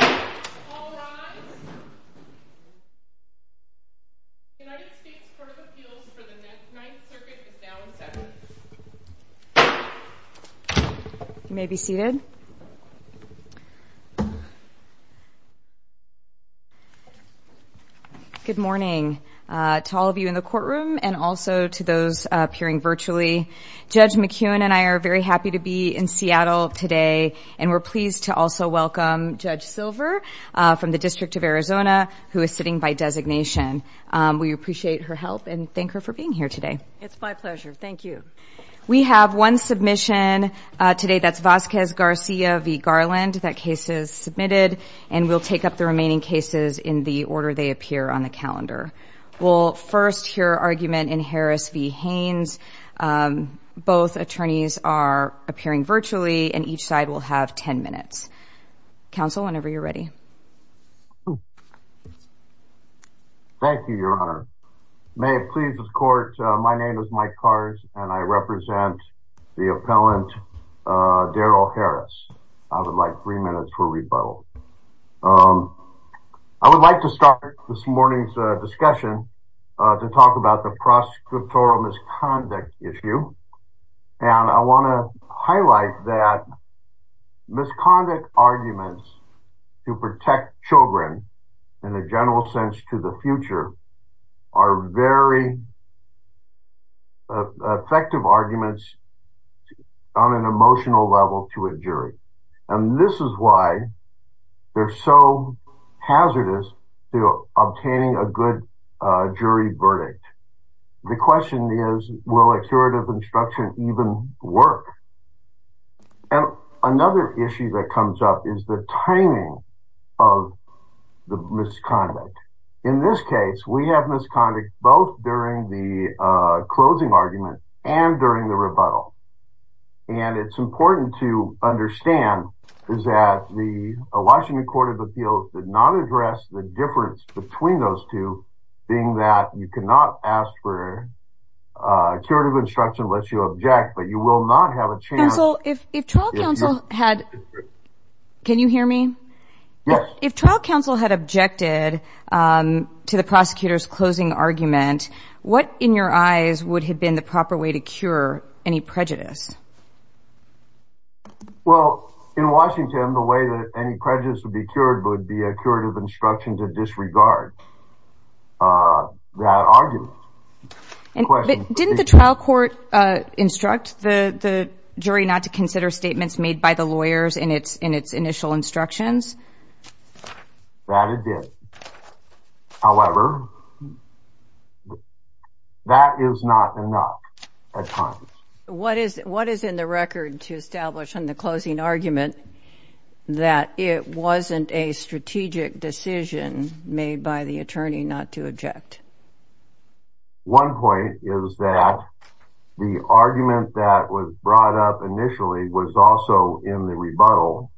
All rise. United States Court of Appeals for the Ninth Circuit is now in session. You may be seated. Good morning to all of you in the courtroom and also to those appearing virtually. Judge McEwen and I are very happy to be in Seattle today and we're pleased to also welcome Judge Silver from the District of Arizona who is sitting by designation. We appreciate her help and thank her for being here today. It's my pleasure. Thank you. We have one submission today that's Vasquez Garcia v. Garland. That case is submitted and we'll take up the remaining cases in the order they appear on the calendar. We'll first hear argument in Harris v. Haynes. Both attorneys are appearing virtually and each side will have ten minutes. Counsel, whenever you're ready. Thank you, Your Honor. May it please the court, my name is Mike Kars and I represent the appellant Darrel Harris. I would like three minutes for rebuttal. I would like to start this morning's discussion to talk about the prosecutorial misconduct issue. And I want to highlight that misconduct arguments to protect children in a general sense to the future are very effective arguments on an emotional level to a jury. And this is why they're so hazardous to obtaining a good jury verdict. The question is, will a curative instruction even work? Another issue that comes up is the timing of the misconduct. In this case, we have misconduct both during the closing argument and during the rebuttal. And it's important to understand that the Washington Court of Appeals did not address the difference between those two, being that you cannot ask for a curative instruction to let you object, but you will not have a chance... Counsel, if trial counsel had... Can you hear me? Yes. If trial counsel had objected to the prosecutor's closing argument, what, in your eyes, would have been the proper way to cure any prejudice? Well, in Washington, the way that any prejudice would be cured would be a curative instruction to disregard that argument. Didn't the trial court instruct the jury not to consider statements made by the lawyers in its initial instructions? That it did. However, that is not enough at times. What is in the record to establish in the closing argument that it wasn't a strategic decision made by the attorney not to object? One point is that the argument that was brought up initially was also in the rebuttal.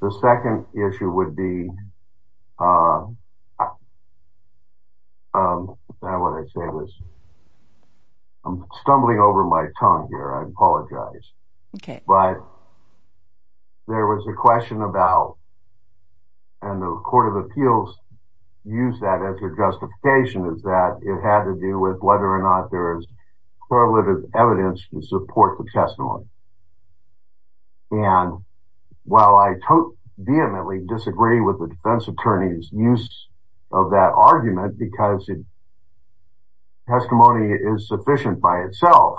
The second issue would be... I'm stumbling over my tongue here. I apologize. Okay. But there was a question about, and the Court of Appeals used that as their justification, is that it had to do with whether or not there is correlative evidence to support the testimony. And while I vehemently disagree with the defense attorney's use of that argument, because testimony is sufficient by itself,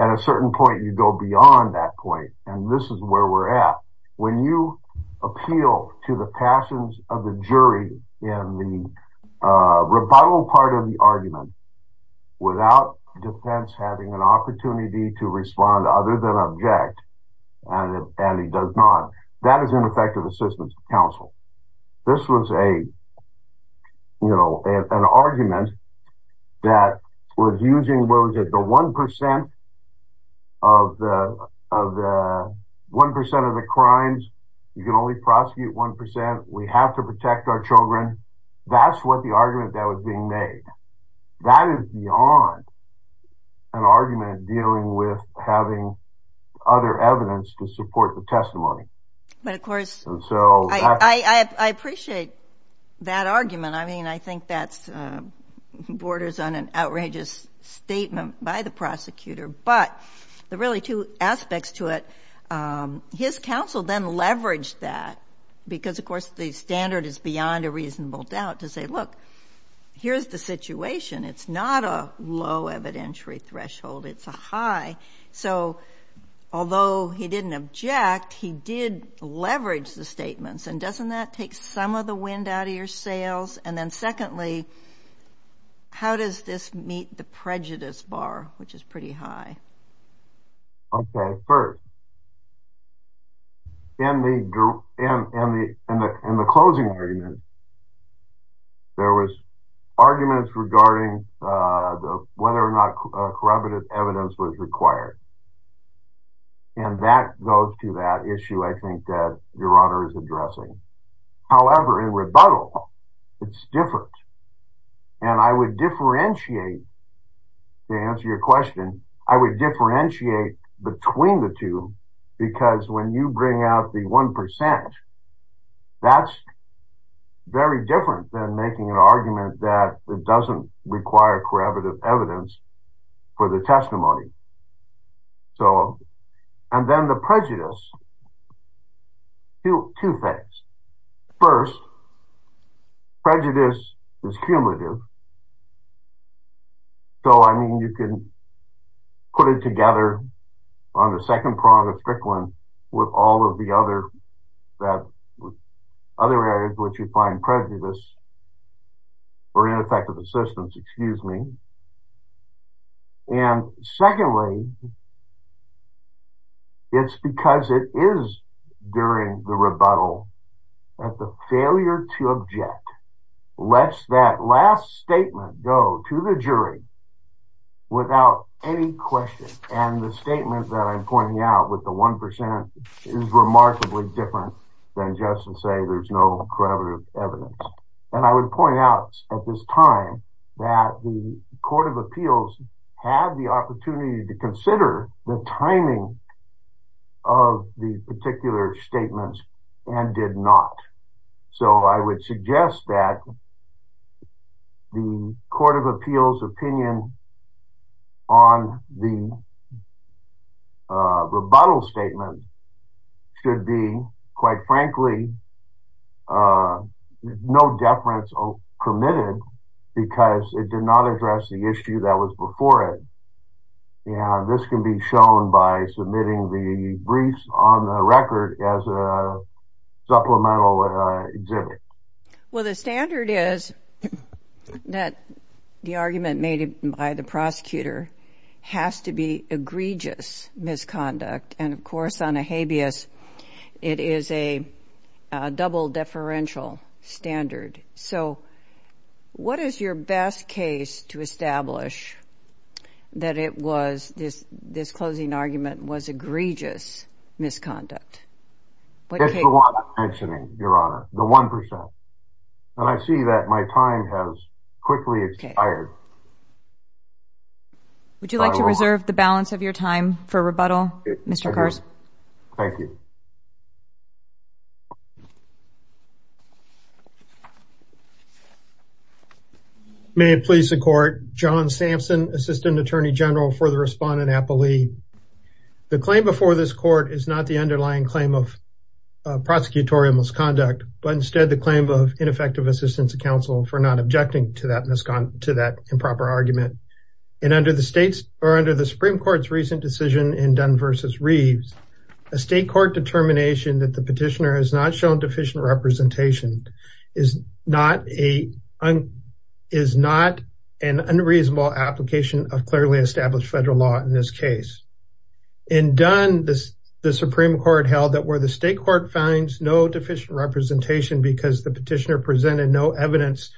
at a certain point you go beyond that point. And this is where we're at. When you appeal to the passions of the jury in the rebuttal part of the argument without defense having an opportunity to respond other than object, and it does not, that is ineffective assistance to counsel. This was an argument that was using the 1% of the crimes. You can only prosecute 1%. We have to protect our children. That's what the argument that was being made. That is beyond an argument dealing with having other evidence to support the testimony. But, of course, I appreciate that argument. I mean, I think that borders on an outrageous statement by the prosecutor. But there are really two aspects to it. His counsel then leveraged that because, of course, the standard is beyond a reasonable doubt to say, look, here's the situation. It's not a low evidentiary threshold. It's a high. So, although he didn't object, he did leverage the statements. And doesn't that take some of the wind out of your sails? And then, secondly, how does this meet the prejudice bar, which is pretty high? Okay, first, in the closing argument, there was arguments regarding whether or not corroborative evidence was required. And that goes to that issue, I think, that Your Honor is addressing. However, in rebuttal, it's different. And I would differentiate, to answer your question, I would differentiate between the two because when you bring out the 1%, that's very different than making an argument that it doesn't require corroborative evidence for the testimony. So, and then the prejudice, two things. First, prejudice is cumulative. So, I mean, you can put it together on the second prong of Frickland with all of the other areas which you find prejudiced or ineffective assistance, excuse me. And secondly, it's because it is during the rebuttal that the failure to object lets that last statement go to the jury without any question. And the statement that I'm pointing out with the 1% is remarkably different than just to say there's no corroborative evidence. And I would point out at this time that the Court of Appeals had the opportunity to consider the timing of the particular statements and did not. So I would suggest that the Court of Appeals opinion on the rebuttal statement should be, quite frankly, no deference permitted because it did not address the issue that was before it. This can be shown by submitting the briefs on the record as a supplemental exhibit. Well, the standard is that the argument made by the prosecutor has to be egregious misconduct. And, of course, on a habeas, it is a double deferential standard. So what is your best case to establish that it was, this closing argument, was egregious misconduct? It's the one I'm mentioning, Your Honor, the 1%. And I see that my time has quickly expired. Would you like to reserve the balance of your time for rebuttal, Mr. Carson? Thank you. May it please the Court. John Sampson, Assistant Attorney General for the Respondent Appellee. The claim before this Court is not the underlying claim of prosecutorial misconduct, but instead the claim of ineffective assistance to counsel for not objecting to that improper argument. And under the Supreme Court's recent decision in Dunn v. Reeves, a state court determined that the defendant, a state court determined that the petitioner has not shown deficient representation, is not an unreasonable application of clearly established federal law in this case. In Dunn, the Supreme Court held that where the state court finds no deficient representation because the petitioner presented no evidence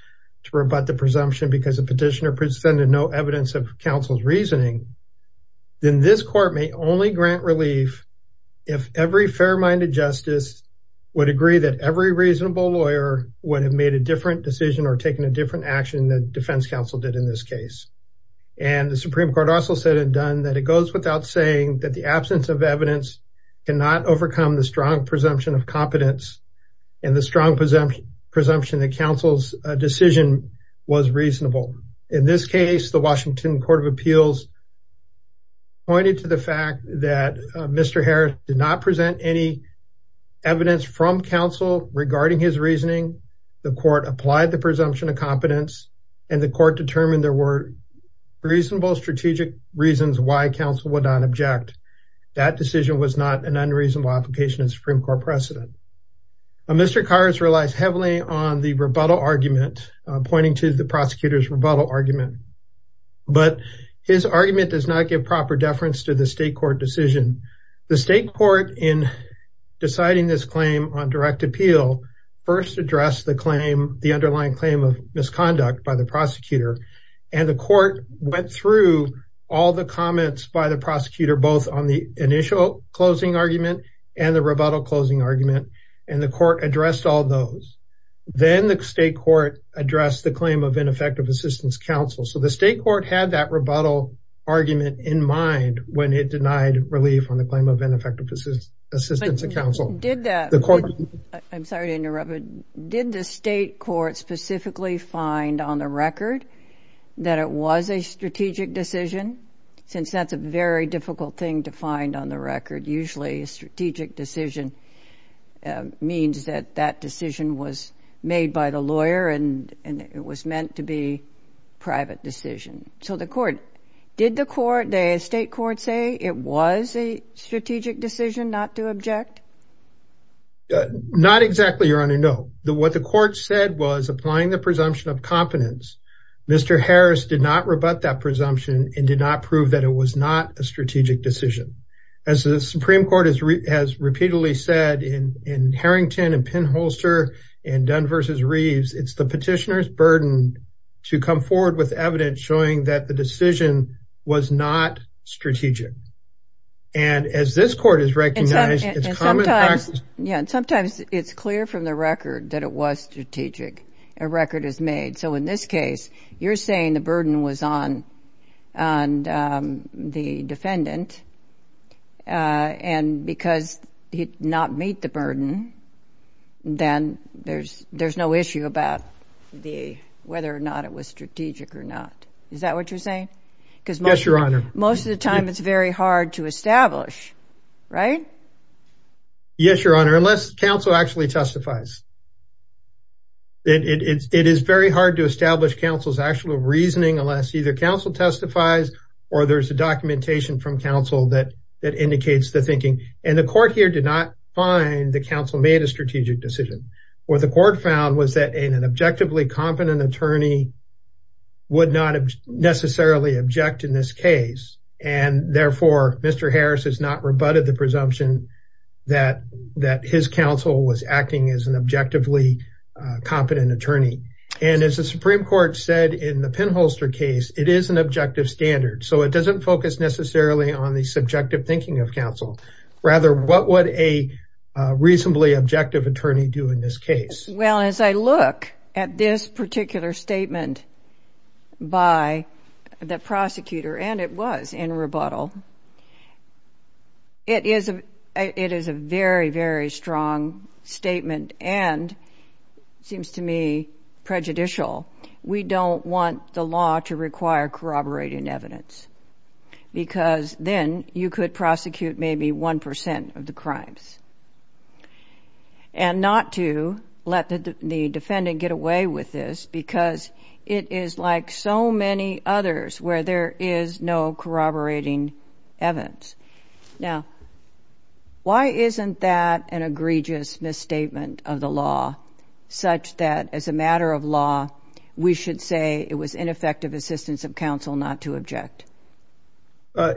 to rebut the presumption because the petitioner presented no evidence of counsel's reasoning, then this court may only grant relief if every fair-minded justice would agree that every reasonable lawyer would have made a different decision or taken a different action that defense counsel did in this case. And the Supreme Court also said in Dunn that it goes without saying that the absence of evidence cannot overcome the strong presumption of competence and the strong presumption that counsel's decision was reasonable. In this case, the Washington Court of Appeals pointed to the fact that Mr. Harris did not present any evidence from counsel regarding his reasoning. The court applied the presumption of competence and the court determined there were reasonable strategic reasons why counsel would not object. That decision was not an unreasonable application of Supreme Court precedent. Mr. Harris did not present any evidence of competence or reason to object to the prosecutor's rebuttal argument, but his argument does not give proper deference to the state court decision. The state court in deciding this claim on direct appeal first addressed the claim, the underlying claim of misconduct by the prosecutor, and the court went through all the comments by the prosecutor, both on the initial closing argument and the rebuttal closing argument, and the court addressed all those. Then the state court addressed the claim of ineffective assistance counsel. So the state court had that rebuttal argument in mind when it denied relief on the claim of ineffective assistance of counsel. I'm sorry to interrupt, but did the state court specifically find on the record that it was a strategic decision? Since that's a very difficult thing to find on the record, usually a strategic decision means that that decision was made by the lawyer and it was meant to be private decision. So the court, did the court, the state court say it was a strategic decision not to object? Not exactly, Your Honor, no. What the court said was applying the presumption of competence. Mr. Harris did not rebut that presumption and did not prove that it was not a strategic decision. As the Supreme Court has repeatedly said in Harrington and Penholster and Dunn versus Reeves, it's the petitioner's burden to come forward with evidence showing that the decision was not strategic. And as this court has recognized, it's common practice. Yeah, and sometimes it's clear from the record that it was strategic. A record is made. So in this case, you're saying the burden was on the defendant. And because he did not meet the burden, then there's no issue about whether or not it was strategic or not. Is that what you're saying? Yes, Your Honor. Because most of the time it's very hard to establish, right? Yes, Your Honor, unless counsel actually testifies. It is very hard to establish counsel's actual reasoning unless either counsel testifies or there's a documentation from counsel that indicates the thinking. And the court here did not find that counsel made a strategic decision. What the court found was that an objectively competent attorney would not necessarily object in this case. And therefore, Mr. Harris has not rebutted the presumption that his counsel was acting as an objectively competent attorney. And as the Supreme Court said in the pinholster case, it is an objective standard. So it doesn't focus necessarily on the subjective thinking of counsel. Rather, what would a reasonably objective attorney do in this case? Well, as I look at this particular statement by the prosecutor, and it was in rebuttal, it is a very, very strong statement and seems to me prejudicial. We don't want the law to require corroborating evidence, because then you could prosecute maybe 1% of the crimes. And not to let the defendant get away with this, because it is like so many others where there is no corroborating evidence. Now, why isn't that an egregious misstatement of the law, such that as a matter of law, we should say it was ineffective assistance of counsel not to object?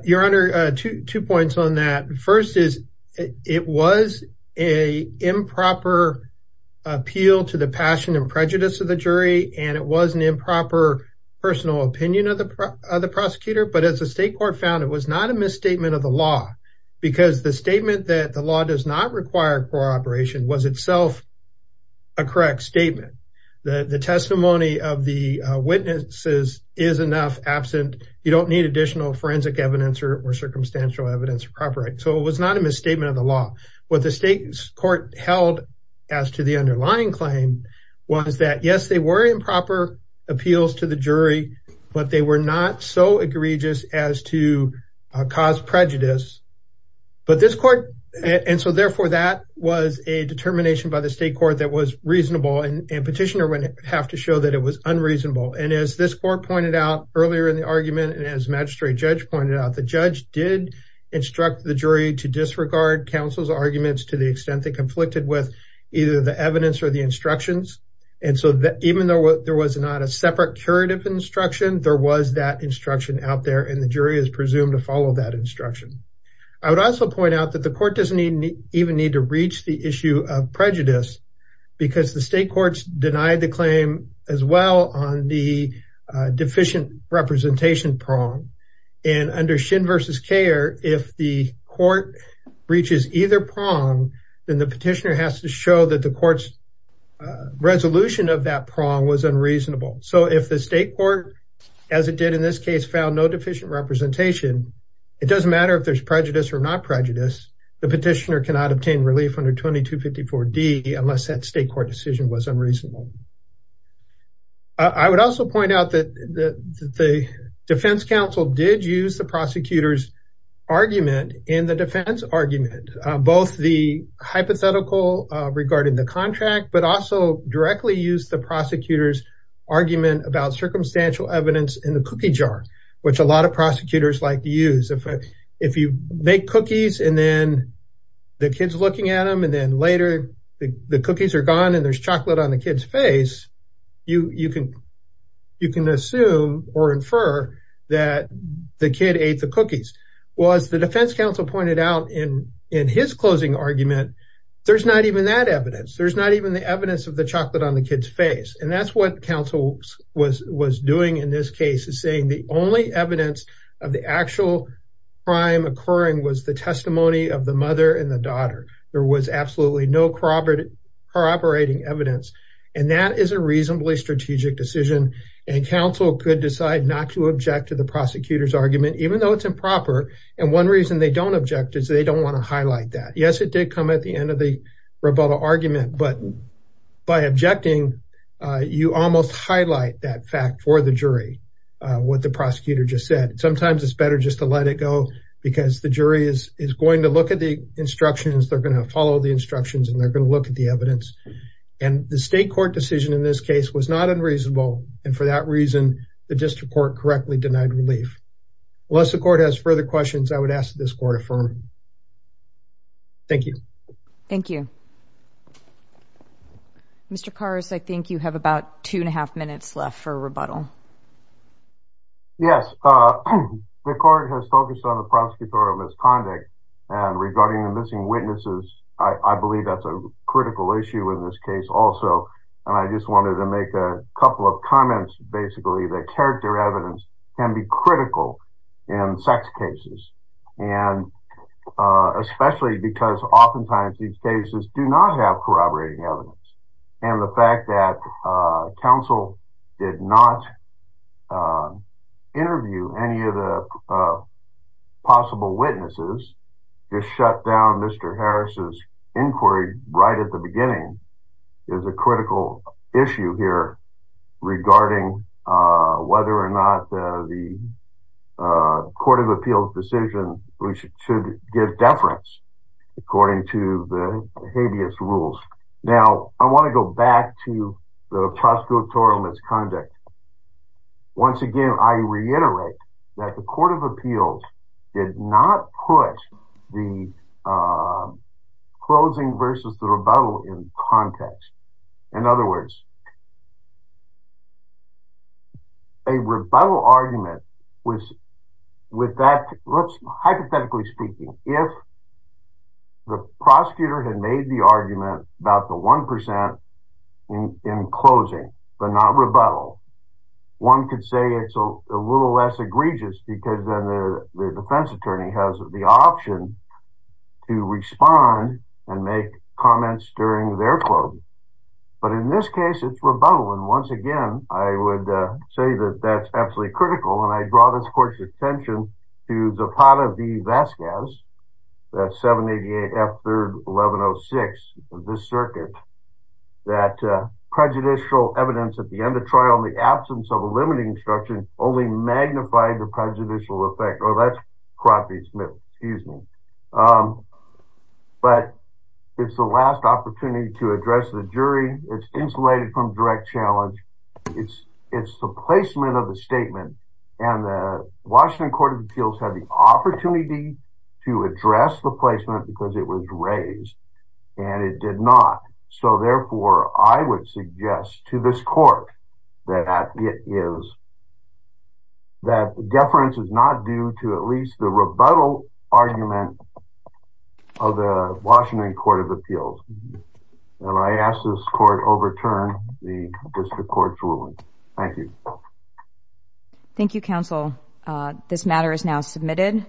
Your Honor, two points on that. First is it was an improper appeal to the passion and prejudice of the jury, and it was an improper personal opinion of the prosecutor. But as the state court found, it was not a misstatement of the law, because the statement that the law does not require corroboration was itself a correct statement. The testimony of the witnesses is enough absent. You don't need additional forensic evidence or circumstantial evidence. So it was not a misstatement of the law. What the state court held as to the underlying claim was that, yes, they were improper appeals to the jury, but they were not so egregious as to cause prejudice. Therefore, that was a determination by the state court that was reasonable, and petitioner would have to show that it was unreasonable. As this court pointed out earlier in the argument, and as the magistrate judge pointed out, the judge did instruct the jury to disregard counsel's arguments Even though there was not a separate curative instruction, there was that instruction out there, and the jury is presumed to follow that instruction. I would also point out that the court doesn't even need to reach the issue of prejudice, because the state courts denied the claim as well on the deficient representation prong. And under Shin v. Kaeher, if the court reaches either prong, then the petitioner has to show that the court's resolution of that prong was unreasonable. So if the state court, as it did in this case, found no deficient representation, it doesn't matter if there's prejudice or not prejudice. The petitioner cannot obtain relief under 2254D unless that state court decision was unreasonable. I would also point out that the defense counsel did use the prosecutor's argument in the defense argument. Both the hypothetical regarding the contract, but also directly used the prosecutor's argument about circumstantial evidence in the cookie jar, which a lot of prosecutors like to use. If you make cookies and then the kid's looking at them, and then later the cookies are gone and there's chocolate on the kid's face, well, as the defense counsel pointed out in his closing argument, there's not even that evidence. There's not even the evidence of the chocolate on the kid's face. And that's what counsel was doing in this case, is saying the only evidence of the actual crime occurring was the testimony of the mother and the daughter. There was absolutely no corroborating evidence. And that is a reasonably strategic decision. And counsel could decide not to object to the prosecutor's argument, even though it's improper. And one reason they don't object is they don't want to highlight that. Yes, it did come at the end of the rebuttal argument, but by objecting, you almost highlight that fact for the jury, what the prosecutor just said. Sometimes it's better just to let it go because the jury is going to look at the instructions, they're going to follow the instructions, and they're going to look at the evidence. And the state court decision in this case was not unreasonable. And for that reason, the district court correctly denied relief. Unless the court has further questions, I would ask that this court affirm. Thank you. Thank you. Mr. Karras, I think you have about two and a half minutes left for rebuttal. Yes. The court has focused on the prosecutor of misconduct. And regarding the missing witnesses, I believe that's a critical issue in this case also. And I just wanted to make a couple of comments, basically, that character evidence can be critical in sex cases. And especially because oftentimes these cases do not have corroborating evidence. And the fact that counsel did not interview any of the possible witnesses to shut down Mr. Harris's inquiry right at the beginning is a critical issue here regarding whether or not the court of appeals decision should give deference according to the habeas rules. Now, I want to go back to the prosecutorial misconduct. Once again, I reiterate that the court of appeals did not put the closing versus the rebuttal in context. In other words, a rebuttal argument was with that, hypothetically speaking, if the prosecutor had made the argument about the 1% in closing, but not rebuttal, one could say it's a little less egregious because then the defense attorney has the option to respond and make comments during their closing. But in this case, it's rebuttal. And once again, I would say that that's absolutely critical. And I draw this court's attention to Zapata v. Vasquez, that 788F3-1106 of this circuit, that prejudicial evidence at the end of trial in the absence of a limiting instruction only magnified the prejudicial effect. But it's the last opportunity to address the jury. It's insulated from direct challenge. It's the placement of the statement. And the Washington court of appeals had the opportunity to address the placement because it was raised. And it did not. So therefore, I would suggest to this court that deference is not due to at least the rebuttal argument of the Washington court of appeals. And I ask this court overturn the district court's ruling. Thank you. Thank you, counsel. This matter is now submitted.